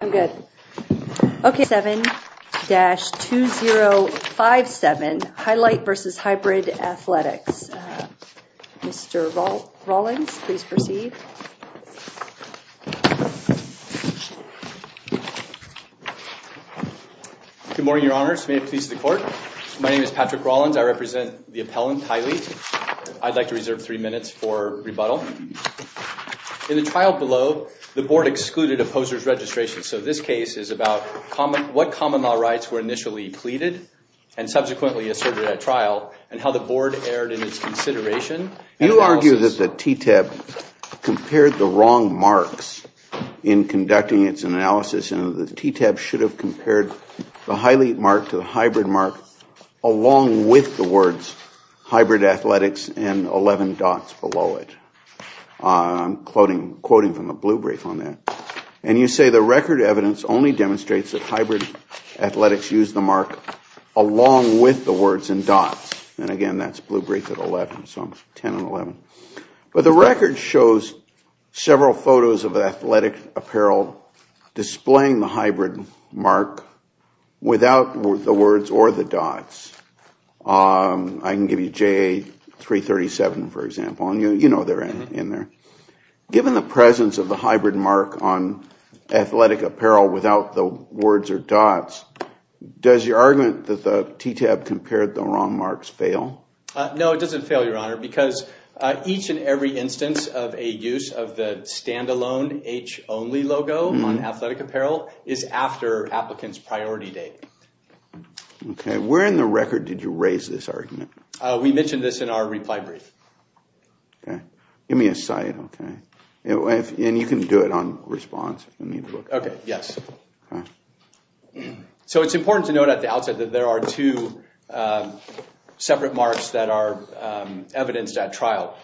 I'm good. Okay, 7-2057, Hylete v. Hybrid Athletics. Mr. Rollins, please proceed. Good morning, Your Honors. May it please the Court. My name is Patrick Rollins. I represent the appellant, Tylee. I'd like to reserve three minutes for rebuttal. In the trial below, the Board excluded opposers' registration. So this case is about what common law rights were initially pleaded and subsequently asserted at trial and how the Board erred in its consideration. You argue that the TTAB compared the wrong marks in conducting its analysis and the TTAB should have compared the Hylete mark to the Hybrid mark along with the words Hybrid Athletics and 11 dots below it. I'm quoting from the blue brief on that. And you say the record evidence only demonstrates that Hybrid Athletics used the mark along with the words and dots. And again, that's blue brief at 11, so 10 and 11. But the record shows several photos of athletic apparel displaying the Hybrid mark without the words or the dots. I can give you JA-337, for example, and you know they're in there. Given the presence of the Hybrid mark on athletic apparel without the words or dots, does your argument that the TTAB compared the wrong marks fail? No, it doesn't fail, Your Honor, because each and every instance of a use of the standalone H-only logo on athletic apparel is after applicant's priority date. Okay. Where in the record did you raise this argument? We mentioned this in our reply brief. Okay. Give me a site, okay? And you can do it on response. Okay, yes. So it's important to note at the outset that there are two separate marks that are evidenced at trial.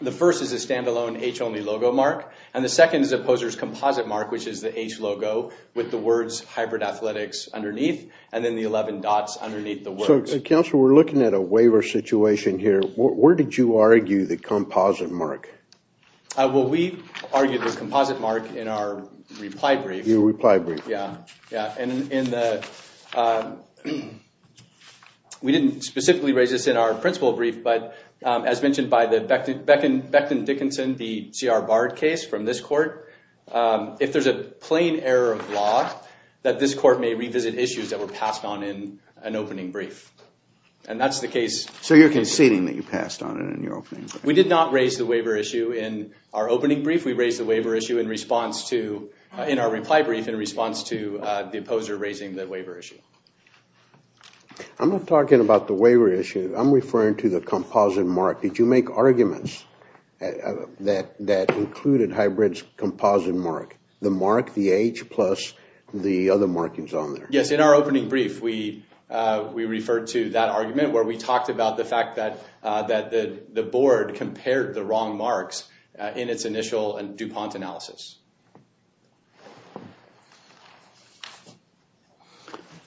The first is a standalone H-only logo mark and the second is a poser's composite mark, which is the H logo with the words Hybrid Athletics underneath and then the 11 dots underneath the words. So, Counselor, we're looking at a waiver situation here. Where did you argue the composite mark? Well, we argued the composite mark in our reply brief. Your reply brief. Yeah, yeah. And in the we didn't specifically raise this in our principal brief, but as mentioned by the Beckton Dickinson, the C.R. Bard case from this court, if there's a plain error of law that this court may revisit issues that were passed on in an opening brief. And that's the case. So you're conceding that you passed on it in your opening? We did not raise the waiver issue in our opening brief. We raised the waiver issue in response to, in our reply brief, in response to the opposer raising the waiver issue. I'm not talking about the waiver issue. I'm referring to the composite mark. Did you make arguments that included hybrid's composite mark? The mark, the H plus, the other markings on there. Yes, in our opening brief, we referred to that argument where we talked about the fact that the board compared the wrong marks in its initial and DuPont analysis.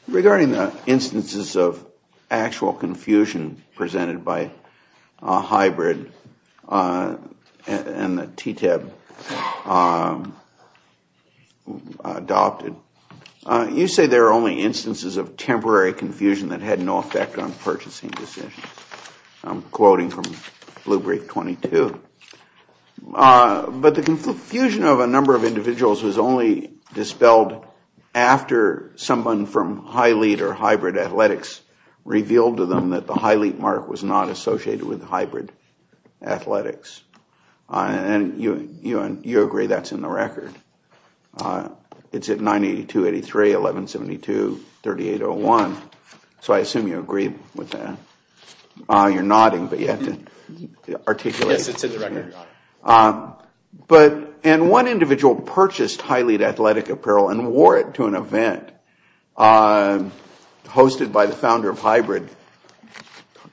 Regarding the instances of actual confusion presented by a hybrid and the TTAB, adopted, you say there are only instances of temporary confusion that had no effect on purchasing decisions. I'm quoting from Blue Brief 22. But the confusion of a number of individuals was only dispelled after someone from Hy-Leet or hybrid athletics revealed to them that the Hy-Leet mark was not associated with hybrid athletics. And you agree that's in the record. It's at 982.83, 1172.38.01. So I assume you agree with that. You're nodding, but you have to articulate. Yes, it's in the record. And one individual purchased Hy-Leet athletic apparel and wore it to an event hosted by the founder of hybrid,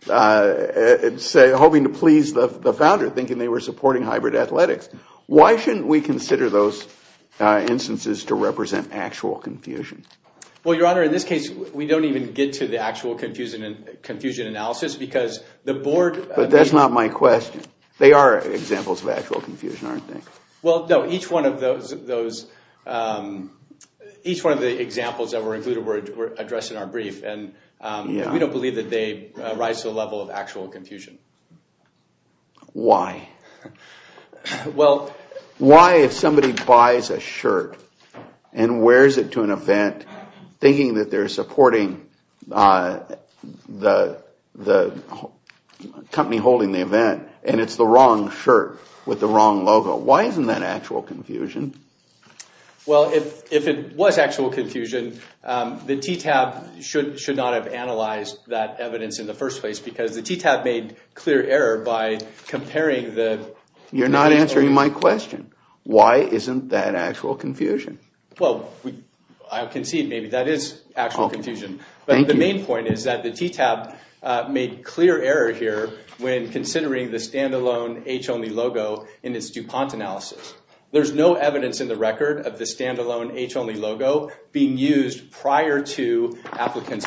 hoping to please the founder, thinking they were supporting hybrid athletics. Why shouldn't we consider those instances to represent actual confusion? Well, Your Honor, in this case, we don't even get to the actual confusion analysis because the board... But that's not my question. They are examples of actual confusion, aren't they? Well, no. Each one of the examples that were included were addressed in our brief, and we don't believe that they rise to the level of actual confusion. Why? Well... Why, if somebody buys a shirt and wears it to an event thinking that they're supporting the company holding the event, and it's the wrong shirt with the wrong logo, why isn't that actual confusion? Well, if it was actual confusion, the TTAB should not have clear error by comparing the... You're not answering my question. Why isn't that actual confusion? Well, I concede maybe that is actual confusion. But the main point is that the TTAB made clear error here when considering the standalone H-Only logo in its DuPont analysis. There's no evidence in the record of the standalone H-Only logo being used prior to Paddington case. Paddington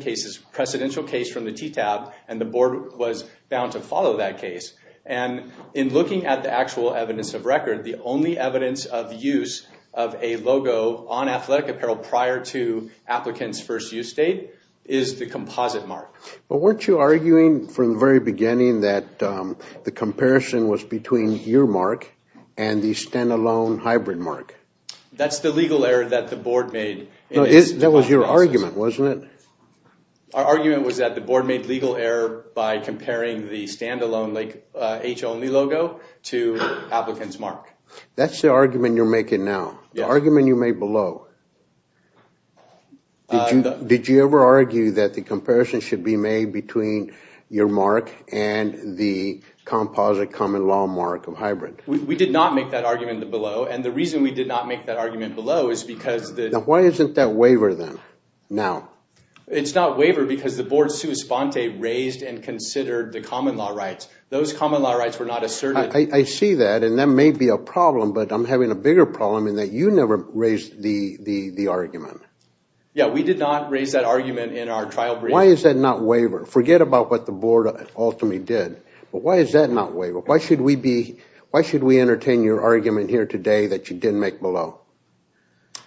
case is a precedential case from the TTAB, and the board was bound to follow that case. And in looking at the actual evidence of record, the only evidence of use of a logo on athletic apparel prior to applicant's first use date is the composite mark. But weren't you arguing from the very beginning that the comparison was between your mark and the standalone hybrid mark? That's the legal error that the board made. No, that was your argument, wasn't it? Our argument was that the board made legal error by comparing the standalone H-Only logo to applicant's mark. That's the argument you're making now, the argument you made below. Did you ever argue that the comparison should be made between your mark and the composite common law mark of hybrid? We did not make that argument below, and the reason we did not make that argument below is because... Now why isn't that waiver then, now? It's not waiver because the board sui sponte raised and considered the common law rights. Those common law rights were not asserted. I see that, and that may be a problem, but I'm having a bigger problem in that you never raised the argument. Yeah, we did not raise that argument in our trial. Why is that not waiver? Forget about what the board ultimately did, but why is that not waiver? Why should we be... Why should we entertain your argument here today that you didn't make below?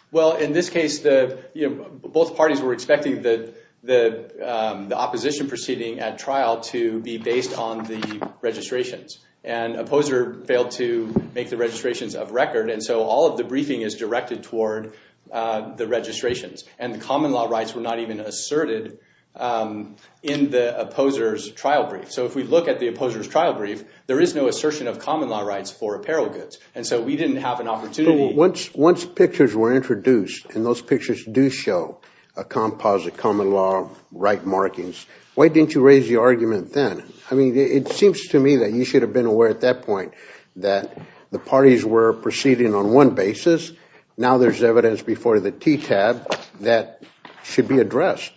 Well, in this case, you know, both parties were expecting the opposition proceeding at trial to be based on the registrations, and opposer failed to make the registrations of record, and so all of the briefing is directed toward the registrations, and the common law rights were not even asserted in the opposers trial brief. So if we look at the opposers trial brief, there is no assertion of common law rights for apparel goods, and so we didn't have an opportunity... Once pictures were introduced, and those pictures do show a composite common law right markings, why didn't you raise the argument then? I mean, it seems to me that you should have been aware at that point that the parties were proceeding on one basis. Now there's evidence before the TTAB that should be addressed.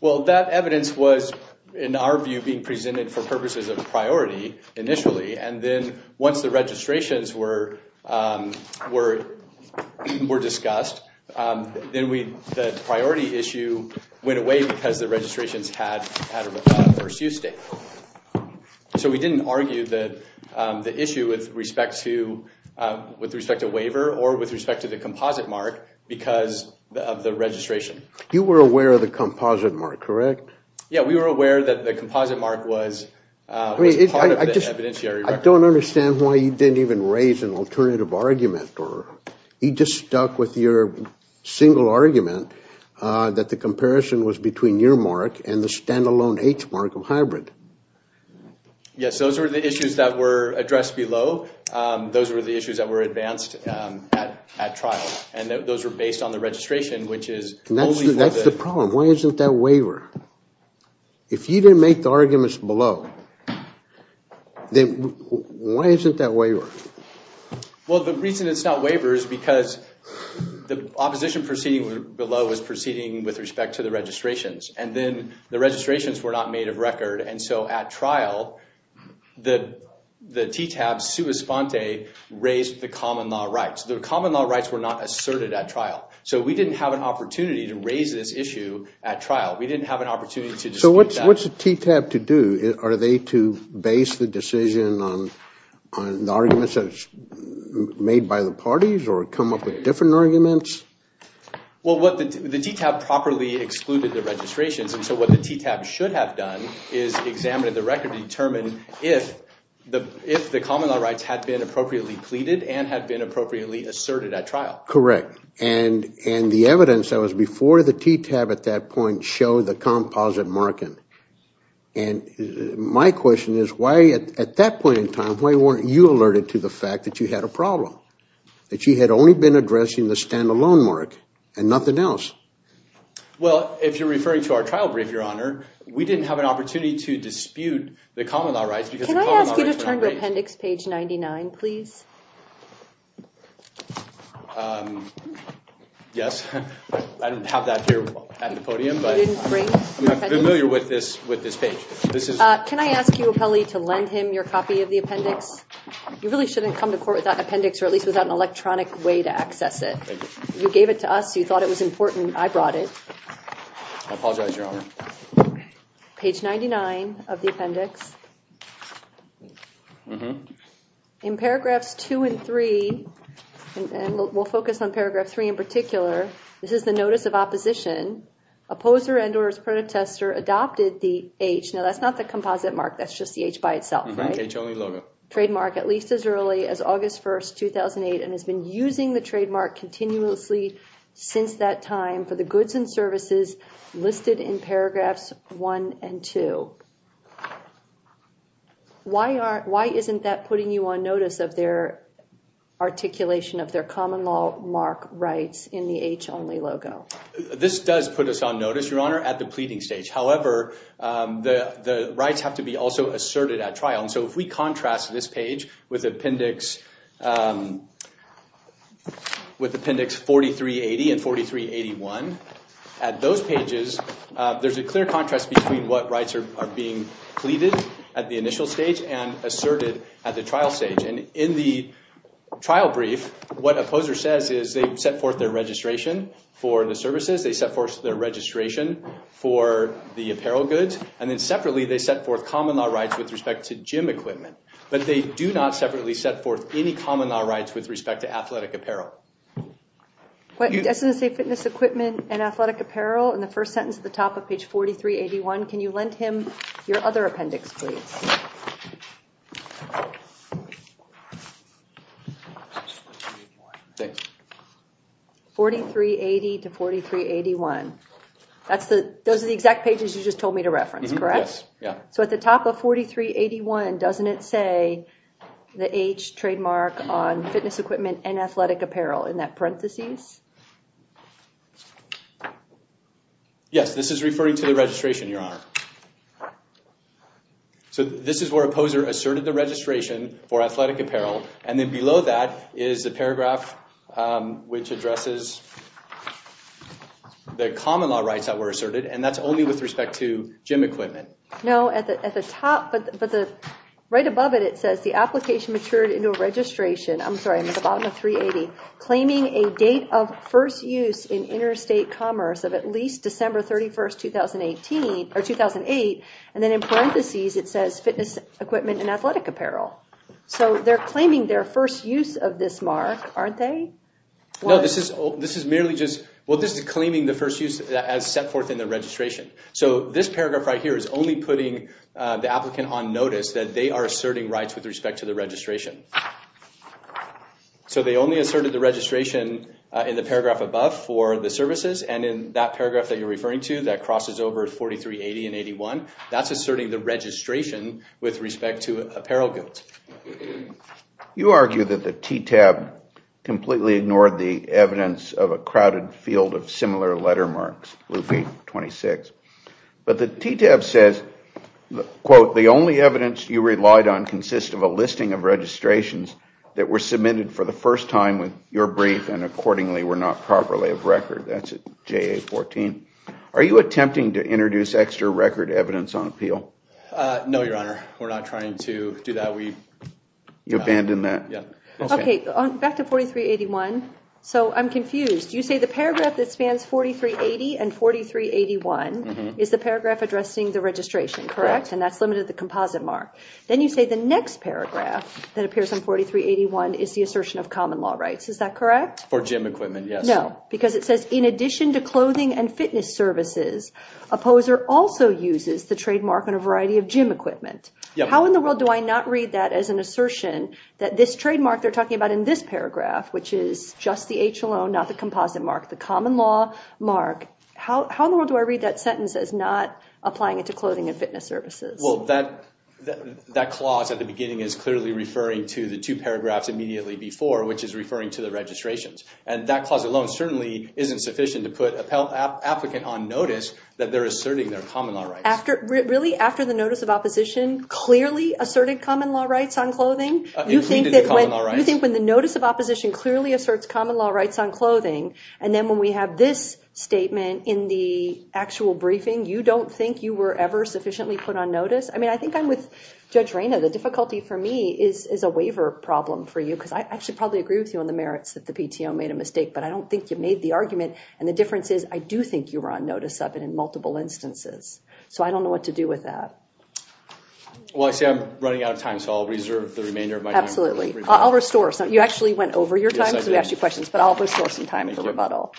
Well, that evidence was, in our view, being presented for purposes of priority initially, and then once the registrations were discussed, then the priority issue went away because the registrations had a first use date. So we didn't argue that the issue with respect to waiver, or with respect to the composite mark, because of the registration. You were aware of the composite mark, correct? Yeah, we were aware that the composite mark was part of the evidentiary record. I don't understand why you didn't even raise an alternative argument, or you just stuck with your single argument that the comparison was between your mark and the standalone H mark of hybrid. Yes, those were the issues that were addressed below. Those were the issues that were advanced at trial, and those were based on the registration, which is... That's the problem. Why isn't that waiver? If you didn't make the arguments below, then why isn't that waiver? Well, the reason it's not waiver is because the opposition proceeding below was proceeding with respect to the registrations, and then the registrations were not made of record, and so at trial, the TTAB's sua sponte raised the common law rights. The common law rights were not asserted at trial, so we didn't have an opportunity to raise this issue at trial. We didn't have an opportunity to dispute that. So what's the TTAB to do? Are they to base the decision on the arguments that's made by the parties, or come up with different arguments? Well, the TTAB properly excluded the registrations, and so what the TTAB should have done is examined the record to determine if the common law rights had been appropriately pleaded and had been appropriately asserted at trial. Correct, and the evidence that before the TTAB at that point showed the composite marking, and my question is why at that point in time, why weren't you alerted to the fact that you had a problem, that you had only been addressing the standalone mark and nothing else? Well, if you're referring to our trial brief, your honor, we didn't have an opportunity to dispute the common law rights because... Can I ask you to I don't have that here at the podium, but I'm not familiar with this page. Can I ask you, appellee, to lend him your copy of the appendix? You really shouldn't come to court without appendix, or at least without an electronic way to access it. You gave it to us, you thought it was important, I brought it. I apologize, your honor. Page 99 of the appendix. In paragraphs two and three, and we'll focus on paragraph three in particular, this is the notice of opposition. Opposer and or his protester adopted the H, now that's not the composite mark, that's just the H by itself, right? H only logo. Trademark at least as early as August 1st, 2008, and has been using the trademark continuously since that time for the goods and services listed in paragraphs one and two. Why isn't that putting you on notice of their common law mark rights in the H only logo? This does put us on notice, your honor, at the pleading stage. However, the rights have to be also asserted at trial, and so if we contrast this page with appendix 4380 and 4381, at those pages there's a clear contrast between what rights are being pleaded at the initial stage and asserted at the trial stage. And in the trial brief, what opposer says is they set forth their registration for the services, they set forth their registration for the apparel goods, and then separately they set forth common law rights with respect to gym equipment. But they do not separately set forth any common law rights with respect to athletic apparel. But doesn't it say fitness equipment and athletic apparel in the first sentence at the top of page 4381? Can you lend him your other appendix, please? 4380 to 4381. Those are the exact pages you just told me to reference, correct? Yeah. So at the top of 4381, doesn't it say the H trademark on fitness equipment and athletic apparel in that parentheses? Yes, this is referring to the registration, your honor. So this is where opposer asserted the registration for athletic apparel, and then below that is the paragraph which addresses the common law rights that were asserted, and that's only with respect to gym equipment. No, at the top, but right above it, it says the application matured into a registration. I'm sorry, I'm at the bottom of 380. Claiming a date of first use in interstate commerce of at least December 31st, 2018, or 2008, and then in parentheses, it says fitness equipment and athletic apparel. So they're claiming their first use of this mark, aren't they? No, this is merely just, well, this is claiming the first use as set forth in the registration. So this paragraph right here is only putting the applicant on notice that they are asserting rights with respect to the registration. So they only asserted the registration in the paragraph above for the services, and in that paragraph that you're referring to, that crosses over 4380 and 81, that's asserting the registration with respect to apparel goods. You argue that the TTAB completely ignored the evidence of a crowded field of similar letter marks, Luffy 26. But the TTAB says, quote, the only evidence you relied on consists of a listing of registrations that were submitted for the first time with your brief and accordingly were not properly of record. That's JA 14. Are you attempting to introduce extra record evidence on appeal? No, Your Honor, we're not trying to do that. You abandoned that? Okay. Back to 4381. So I'm confused. You say the paragraph that spans 4380 and 4381 is the paragraph addressing the registration, correct? And that's limited to the composite mark. Then you say the next paragraph that appears on 4381 is the assertion of common law rights. Is that correct? For gym equipment, yes. No, because it says, in addition to clothing and fitness services, opposer also uses the trademark on a variety of gym equipment. How in the world do I not read that as an assertion that this trademark they're talking about in this paragraph, which is just the H alone, not the composite mark, the common law mark. How in the world do I read that sentence as not applying it to clothing and fitness services? Well, that clause at the beginning is clearly referring to the two paragraphs immediately before, which is referring to the registrations. And that clause alone certainly isn't sufficient to put an applicant on notice that they're asserting their common law rights. Really? After the notice of opposition clearly asserted common law rights on clothing? You think that when the notice of opposition clearly asserts common law rights on clothing, and then when we have this statement in the actual briefing, you don't think you were ever sufficiently put on notice? I mean, I think I'm with Judge Reyna. The difficulty for me is a waiver problem for you, because I should probably agree with you on the merits that the PTO made a mistake, but I don't think you made the argument. And the difference is I do think you were on notice of it in multiple instances. So I don't know what to do with that. Well, I see I'm running out of time, so I'll reserve the remainder of my time. Absolutely. I'll restore some. You actually went over your time, because we asked you questions, but I'll restore some time for rebuttal.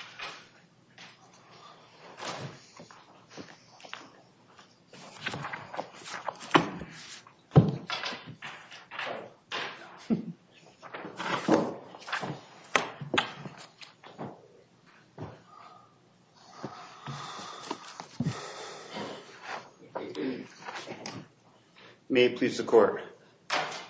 May it please the court.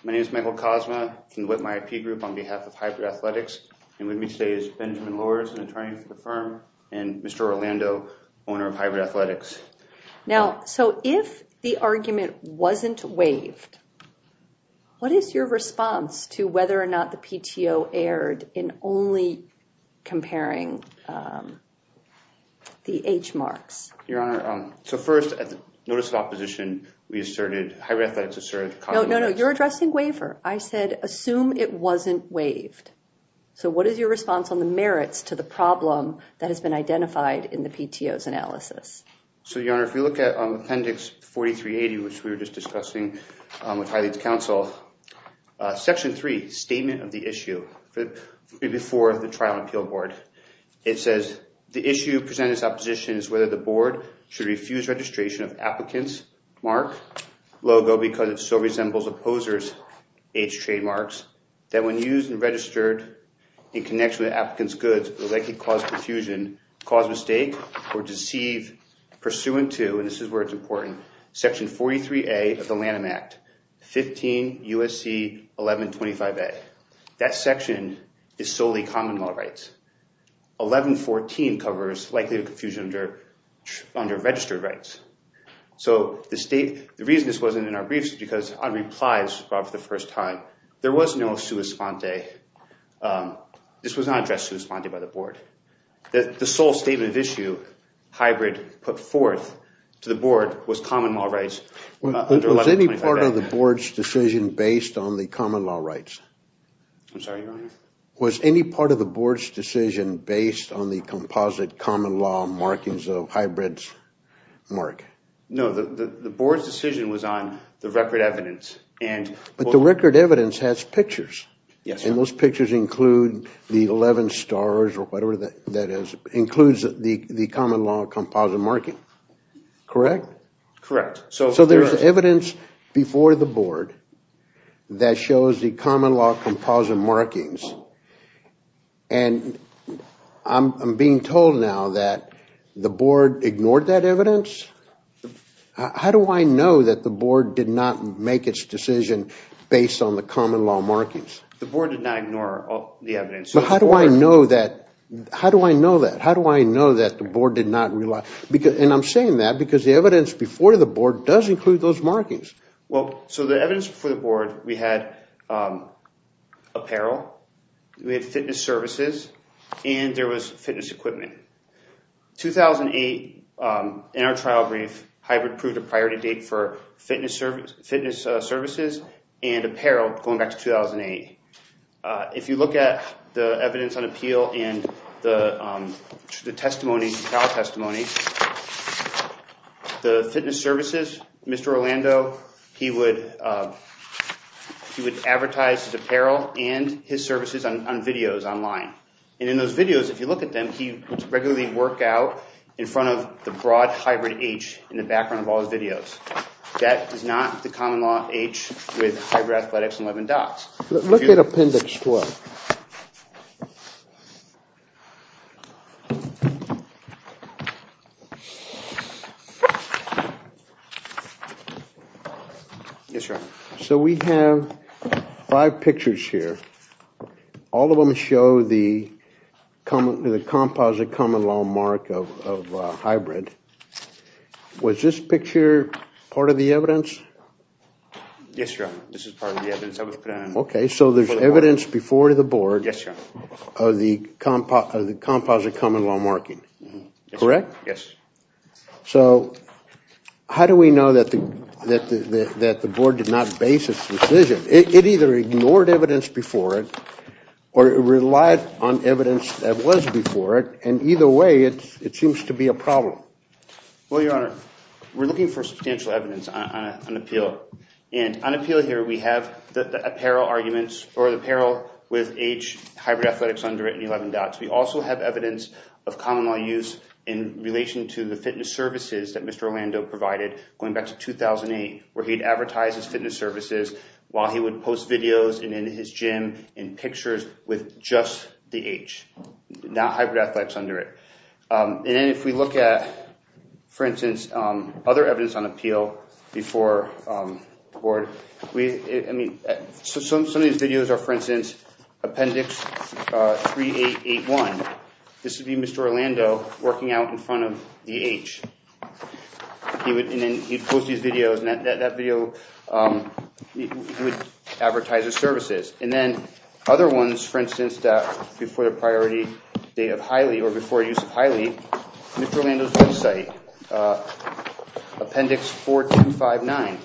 My name is Michael Cosma from the Whitmire IP Group on behalf of Hybrid Athletics, and with me today is Benjamin Lowers, an attorney for the firm, and Mr. Orlando, owner of Hybrid Athletics. Now, so if the argument wasn't waived, what is your response to whether or not the PTO erred in only comparing the H marks? Your Honor, so first, at the notice of opposition, we asserted, Hybrid Athletics asserted... No, no, no. You're addressing waiver. I said, assume it wasn't waived. So what is your response on the merits to the problem that has been identified in the PTO's analysis? So, Your Honor, if you look at Appendix 4380, which we were just discussing with Hylie's counsel, Section 3, Statement of the Issue, before the Trial and Appeal Board, it says, The issue presented in this opposition is whether the Board should refuse registration of Applicant's Mark Logo because it so resembles Opposer's H trademarks, that when used and registered in connection with Applicant's Goods, they could cause confusion, cause mistake, or deceive pursuant to, and this is where it's important, Section 43A of the Lanham Act, 15 U.S.C. 1125A. That section is solely common law rights. 1114 covers likely confusion under registered rights. So the State, the reason this wasn't in our briefs is because on replies brought for the first time, there was no sua sponte. This was not addressed sua sponte by the Board. The sole Statement of Issue, Hybrid put forth to the Board was common law rights. Was any part of the Board's decision based on the common law rights? I'm sorry, Your Honor? Was any part of the Board's decision based on the composite common law markings of hybrids mark? No, the Board's decision was on the record evidence. But the record evidence has pictures, and those pictures include the 11 stars or whatever that is, includes the common law composite marking. Correct? Correct. So there's evidence before the Board that shows the common law composite markings, and I'm being told now that the Board ignored that evidence? How do I know that the Board did not make its decision based on the common law markings? The Board did not ignore the evidence. But how do I know that? How do I know that? How do I know that the Board did not rely? And I'm saying that because the evidence before the Board does include those markings. Well, so the evidence before the Board, we had apparel, we had fitness services, and there was fitness equipment. 2008, in our trial brief, Hybrid proved a priority date for fitness services and apparel going back to 2008. If you look at the evidence on appeal and the testimony, trial testimony, the fitness services, Mr. Orlando, he would advertise his apparel and his services on videos online. And in those videos, if you look at them, he would regularly work out in front of the broad hybrid H in the background of all his videos. That is not the common law H with hybrid athletics and 11 dots. Look at appendix 12. Yes, sir. So we have five pictures here. All of them show the composite common law mark of hybrid. Was this picture part of the evidence? Yes, sir. This is part of the evidence. Okay, so there's evidence before the Board of the composite common law marking, correct? Yes. So how do we know that the Board did not base its decision? It either ignored evidence before it or it relied on evidence that was before it. And either way, it seems to be a problem. Well, Your Honor, we're looking for substantial evidence on appeal. And on appeal here, we have the apparel arguments for the apparel with H hybrid athletics under it and 11 dots. We also have evidence of common law use in relation to the fitness services that Mr. Orlando provided going back to 2008, where he'd advertise his fitness services while he would post videos and in his gym and pictures with just the H, not hybrid athletics under it. And if we look at, for instance, other evidence on appeal before the Board, I mean, some of these videos are, for instance, Appendix 3881. This would be Mr. Orlando working out in front of the H. He would post these videos and that video would advertise his services. And then other ones, for instance, before the priority date of Hiley or before use of Hiley, Mr. Orlando's website, Appendix 4259.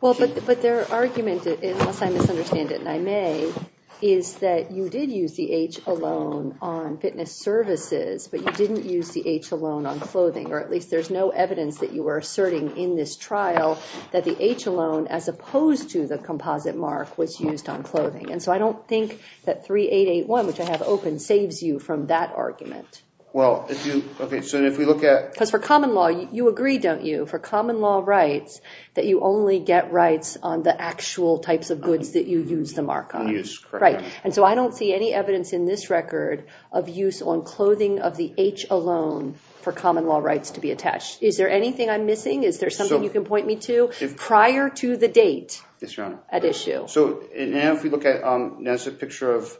Well, but their argument, unless I misunderstand it and I may, is that you did use the H alone on fitness services, but you didn't use the H alone on clothing. Or at least there's no evidence that you were asserting in this trial that the H alone, as opposed to the composite mark, was used on clothing. And so I don't think that 3881, which I have open, saves you from that argument. Because for common law, you agree, don't you, for common law rights, that you only get rights on the actual types of goods that you use the mark on. Right. And so I don't see any evidence in this record of use on clothing of the H alone for common law rights to be attached. Is there anything I'm missing? Is there something you can point me to prior to the date at issue? Yes, Your Honor. So if we look at a picture of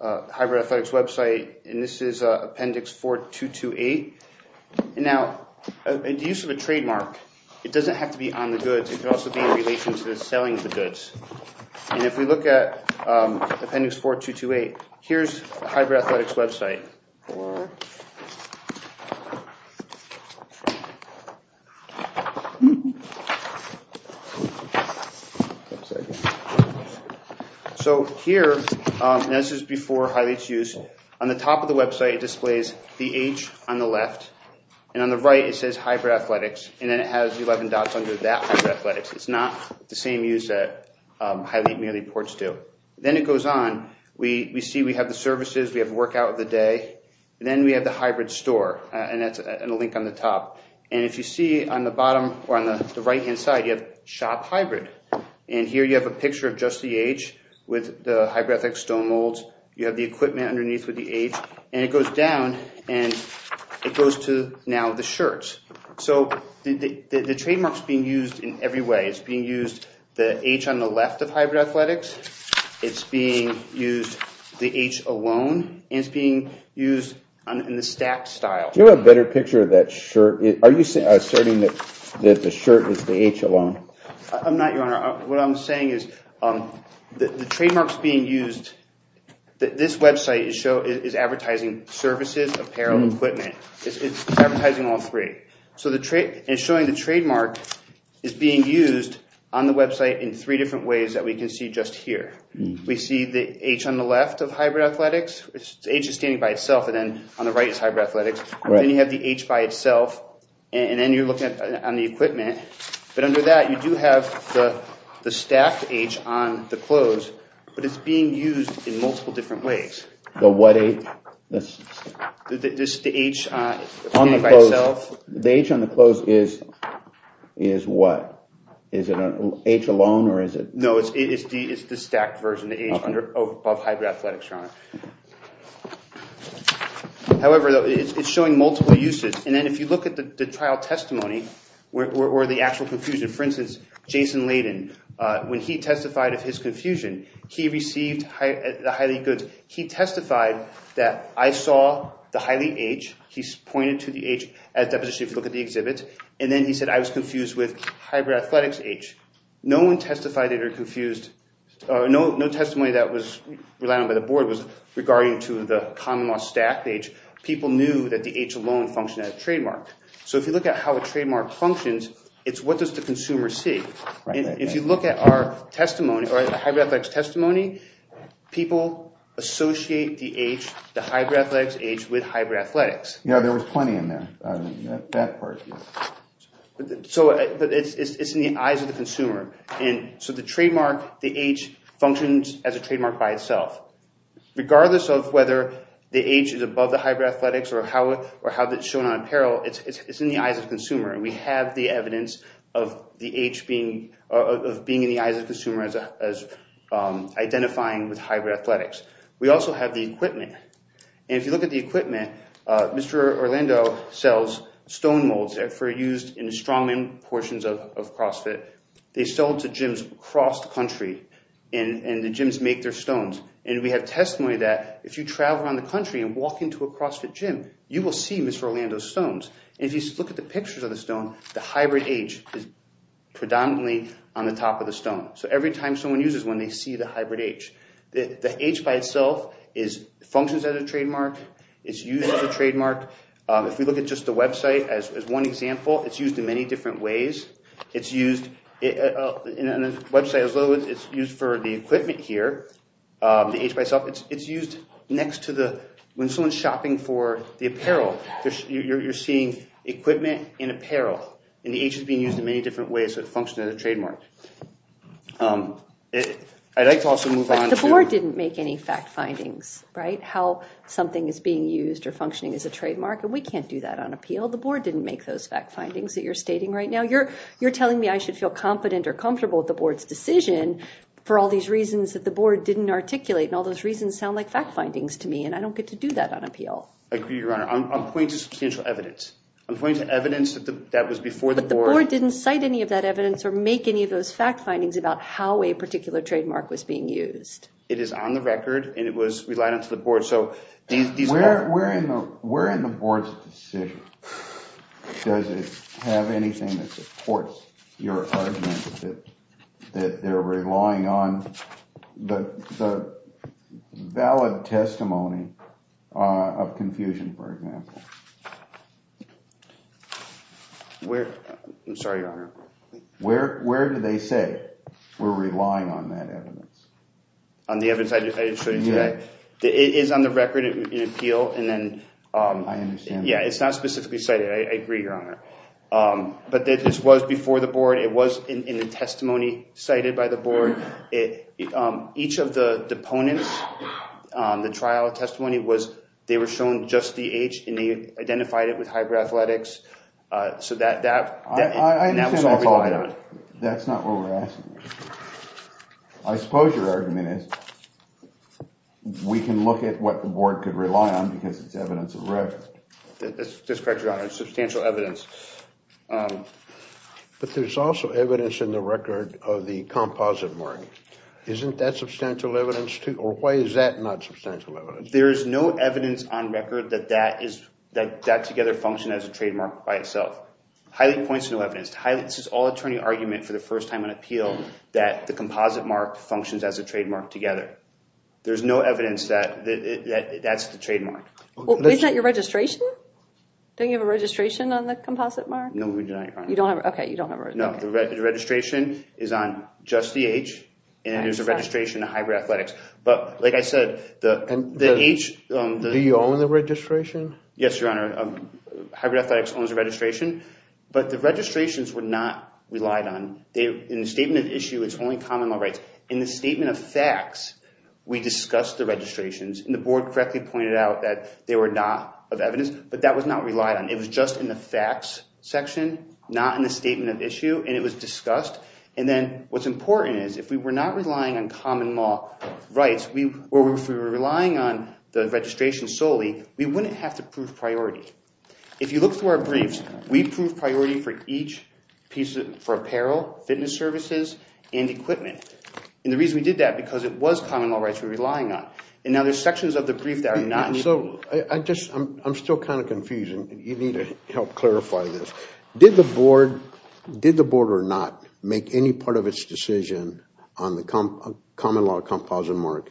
hybrid athletics website, and this is Appendix 4228. And now, the use of a trademark, it doesn't have to be on the goods. It could also be in relation to the selling of the goods. And if we at Appendix 4228, here's a hybrid athletics website. So here, and this is before Hylete's use, on the top of the website, it displays the H on the left. And on the right, it says hybrid athletics. And then it has 11 dots under that hybrid athletics. It's not the same use that merely ports do. Then it goes on. We see we have the services. We have workout of the day. Then we have the hybrid store. And that's a link on the top. And if you see on the bottom, or on the right-hand side, you have shop hybrid. And here, you have a picture of just the H with the hybrid athletics stone molds. You have the equipment underneath with the H. And it goes down. And it goes to now the shirts. So the trademark's being used in every way. It's being used in hybrid athletics. It's being used the H alone. And it's being used in the stacked style. Do you have a better picture of that shirt? Are you asserting that the shirt is the H alone? I'm not, Your Honor. What I'm saying is the trademark's being used. This website is advertising services, apparel, equipment. It's advertising all three. So it's showing the trademark is being used on the website in three different ways that we can see just here. We see the H on the left of hybrid athletics. The H is standing by itself. And then on the right is hybrid athletics. Then you have the H by itself. And then you're looking at the equipment. But under that, you do have the stacked H on the clothes. But it's being used in multiple ways. The H on the clothes is what? Is it an H alone? No, it's the stacked version. However, it's showing multiple uses. And then if you look at the trial testimony where the actual confusion, for instance, Jason Layden, when he testified of his confusion, he received the highly goods. He testified that I saw the highly H. He's pointed to the H as deposition if you look at the exhibit. And then he said I was confused with hybrid athletics H. No one testified that they were confused. No testimony that was relied on by the board was regarding to the common law stacked H. People knew that the H alone functioned as a trademark. So if you look at how a trademark functions, it's what does the consumer see? If you look at our hybrid athletics testimony, people associate the H, the hybrid athletics H, with hybrid athletics. Yeah, there was plenty in there. So it's in the eyes of the consumer. And so the trademark, the H, functions as a trademark by itself. Regardless of whether the H is above the hybrid athletics or how it's shown on apparel, it's in the eyes of the consumer. And we have the evidence of the H being in the eyes of the consumer as identifying with hybrid athletics. We also have the equipment. And if you look at the equipment, Mr. Orlando sells stone molds that were used in strongman portions of CrossFit. They sold to gyms across the country. And the gyms make their stones. And we have testimony that if you travel around the country and walk into a CrossFit gym, you will see Mr. Orlando's stones. And if you look at the pictures of the stone, the hybrid H is predominantly on the top of the stone. So every time someone uses one, they see the hybrid H. The H by itself functions as a trademark. It's used as a trademark. If we look at just the website as one example, it's used in many next to the, when someone's shopping for the apparel, you're seeing equipment and apparel. And the H is being used in many different ways. So it functions as a trademark. I'd like to also move on to- The board didn't make any fact findings, right? How something is being used or functioning as a trademark. And we can't do that on appeal. The board didn't make those fact findings that you're stating right now. You're telling me I should feel confident or comfortable with the board's decision for all these reasons that the board didn't articulate. And all those reasons sound like fact findings to me, and I don't get to do that on appeal. I agree, Your Honor. I'm pointing to substantial evidence. I'm pointing to evidence that was before the board- But the board didn't cite any of that evidence or make any of those fact findings about how a particular trademark was being used. It is on the record and it was relied on to the board. So these- Where in the board's decision does it have anything that valid testimony of confusion, for example? Where- I'm sorry, Your Honor. Where do they say we're relying on that evidence? On the evidence I just showed you today. It is on the record in appeal, and then- I understand. Yeah, it's not specifically cited. I agree, Your Honor. But this was before the board. It was in a testimony cited by the board. It- Each of the deponents, the trial testimony was- They were shown just the age and they identified it with hybrid athletics. So that- I understand that. That's not what we're asking. I suppose your argument is we can look at what the board could rely on because it's evidence of record. That's correct, Your Honor. Substantial evidence. But there's also evidence in the record of the composite mark. Isn't that substantial evidence, too? Or why is that not substantial evidence? There is no evidence on record that that is- that that together functioned as a trademark by itself. Highly points to no evidence. This is all attorney argument for the first time in appeal that the composite mark functions as a trademark together. There's no evidence that that's the trademark. Well, is that your registration? Don't you have a registration on the composite mark? No, we do not, Your Honor. You don't have- Okay, you don't have a- No, the registration is on just the age and there's a registration of hybrid athletics. But like I said, the age- Do you own the registration? Yes, Your Honor. Hybrid athletics owns the registration. But the registrations were not relied on. In the statement of issue, it's only common law rights. In the statement of facts, we discussed the registrations and the board correctly pointed out that they were not of evidence, but that was not relied on. It was just in the facts section, not in the statement of issue, and it was discussed. And then what's important is if we were not relying on common law rights, we- or if we were relying on the registration solely, we wouldn't have to prove priority. If you look through our briefs, we proved priority for each piece of- for apparel, fitness services, and equipment. And the reason we did that, because it was common law rights we were relying on. And now there's sections of the brief that So I just- I'm still kind of confused and you need to help clarify this. Did the board- did the board or not make any part of its decision on the common law composite mark?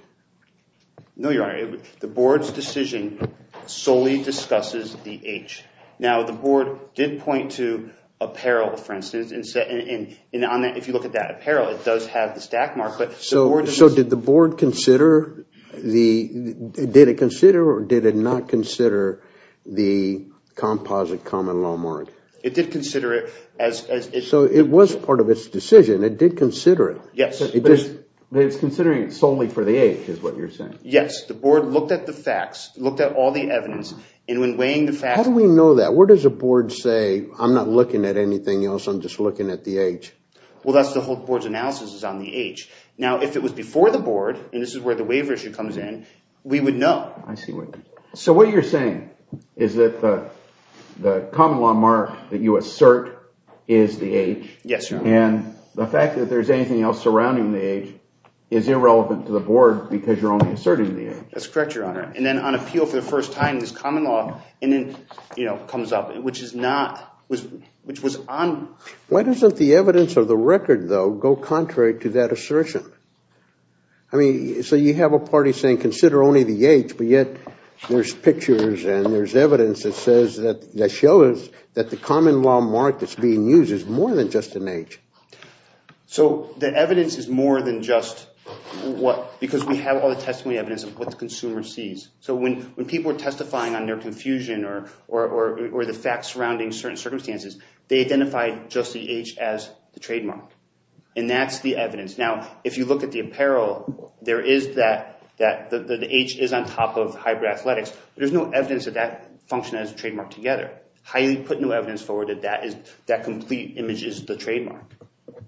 No, Your Honor. The board's decision solely discusses the age. Now, the board did point to apparel, for instance, and if you look at that apparel, it does have the stack mark, but- So did the board consider the- did it consider or did it not consider the composite common law mark? It did consider it as- So it was part of its decision. It did consider it. Yes, but it's considering it solely for the age is what you're saying. Yes, the board looked at the facts, looked at all the evidence, and when weighing the facts- How do we know that? Where does a board say, I'm not looking at anything else, I'm just looking at the age? Well, that's the whole board's analysis is on the age. Now, if it was before the board, and this is where the waiver issue comes in, we would know. I see. So what you're saying is that the common law mark that you assert is the age? Yes, Your Honor. And the fact that there's anything else surrounding the age is irrelevant to the board because you're only asserting the age. That's correct, Your Honor. And then on appeal for the first time, this common law and then, you know, comes up, which is not- which was on- Why doesn't the evidence of the record, though, go contrary to that assertion? I mean, so you have a party saying consider only the age, but yet there's pictures and there's evidence that says that- that shows that the common law mark that's being used is more than just an age. So the evidence is more than just what- because we have all the testimony evidence of what the consumer sees. So when people are testifying on their confusion or the facts surrounding certain circumstances, they identify just the age as the trademark. And that's the evidence. Now, if you look at the apparel, there is that- that the age is on top of hybrid athletics. There's no evidence of that function as a trademark together. Highly put no evidence forward that that is- that complete image is the trademark.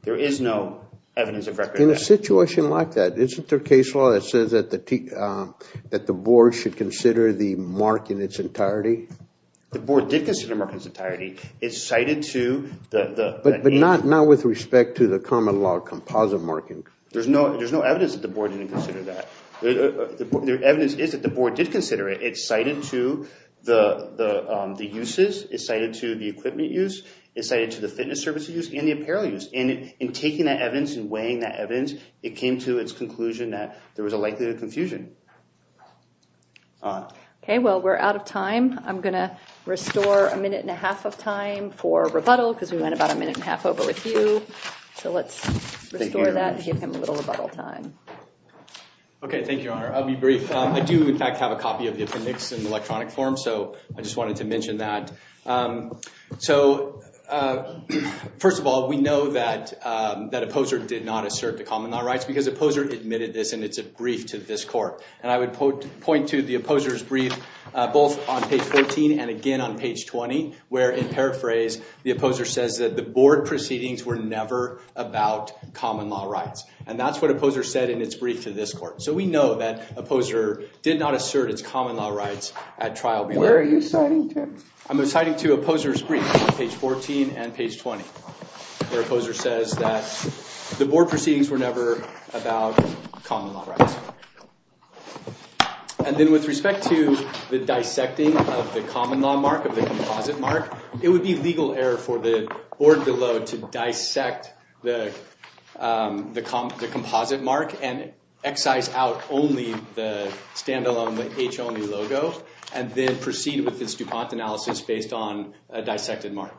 There is no evidence of record. In a situation like that, isn't there case law that says that the- that the board should consider the mark in its entirety? The board did consider mark in its entirety. It's cited to the- But- but not- not with respect to the common law composite marking. There's no- there's no evidence that the board didn't consider that. The evidence is that the board did consider it. It's cited to the- the- the uses. It's cited to the equipment use. It's cited to the fitness services use and the apparel use. And in taking that evidence and weighing that evidence, it came to its conclusion that there was a likelihood of confusion. All right. Okay, well, we're out of time. I'm going to restore a minute and a half of time for rebuttal, because we went about a minute and a half over with you. So, let's restore that and give him a little rebuttal time. Okay, thank you, Your Honor. I'll be brief. I do, in fact, have a copy of the appendix in electronic form. So, I just wanted to mention that. So, first of all, we know that- that a poser did not assert the common law rights because a poser admitted this, and it's a brief to this court. And I would point to the opposer's brief, both on page 14 and again on page 20, where, in paraphrase, the opposer says that the board proceedings were never about common law rights. And that's what a poser said in its brief to this court. So, we know that a poser did not assert its common law rights at trial. Where are you citing to? I'm citing to a poser's brief on page 14 and page 20, where a poser says that the board proceedings were never about common law rights. And then, with respect to the dissecting of the common law mark, of the composite mark, it would be legal error for the board below to dissect the composite mark and excise out only the standalone, the H-only logo, and then proceed with this DuPont analysis based on a dissected mark.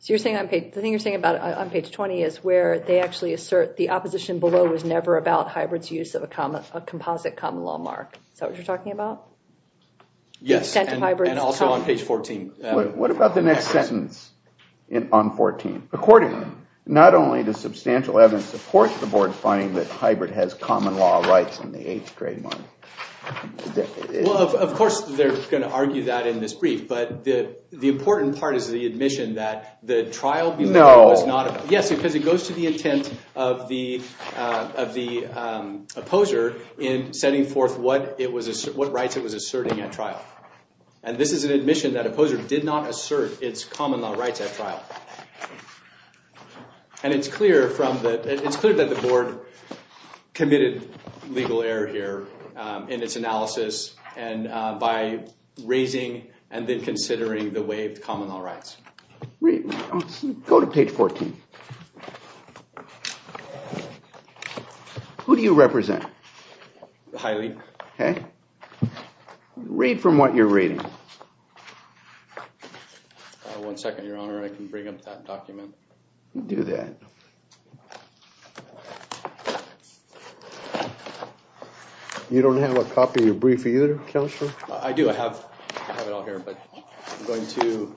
So, the thing you're saying about it on page 20 is where they actually assert the opposition below was never about hybrid's use of a composite common law mark. Is that what you're talking about? Yes, and also on page 14. What about the next sentence on 14? Accordingly, not only does substantial evidence support the board finding that hybrid has common law rights in the eighth grade model. Well, of course, they're going to argue that in this brief. The important part is the admission that the trial below was not... Yes, because it goes to the intent of the poser in setting forth what rights it was asserting at trial. This is an admission that a poser did not assert its common law rights at trial. It's clear that the board committed legal error here in its analysis by raising and then considering the waived common law rights. Go to page 14. Who do you represent? Haile. Read from what you're reading. One second, your honor. I can bring up that document. Do that. You don't have a copy of your brief either, Counselor? I do. I have it all here, but I'm going to...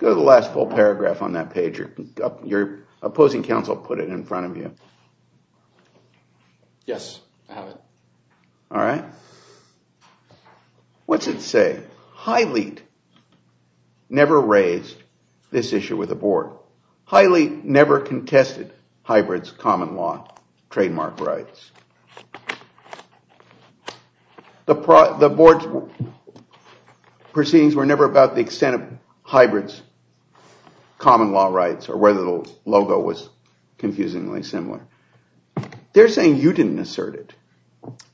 Go to the last full paragraph on that page. Your opposing counsel put it in front of you. Yes, I have it. All right. What's it say? Haile never raised this issue with the board. Haile never contested hybrids common law trademark rights. The board's proceedings were never about the extent of hybrids common law rights or whether the logo was confusingly similar. They're saying you didn't assert it.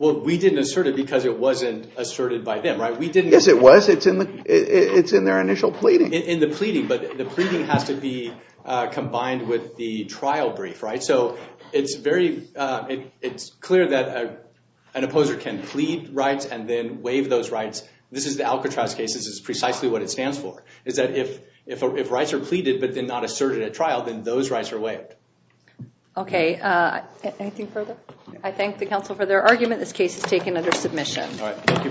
Well, we didn't assert it because it wasn't asserted by them, right? Yes, it was. It's in their initial pleading. In the pleading, but the pleading has to be combined with the trial brief, right? So it's clear that an opposer can plead rights and then waive those rights. This is the Alcatraz case. This is precisely what it stands for, is that if rights are pleaded, but they're not asserted at trial, then those rights are waived. Okay. Anything further? I thank the counsel for their argument. This case is taken under submission. All right. Thank you very much.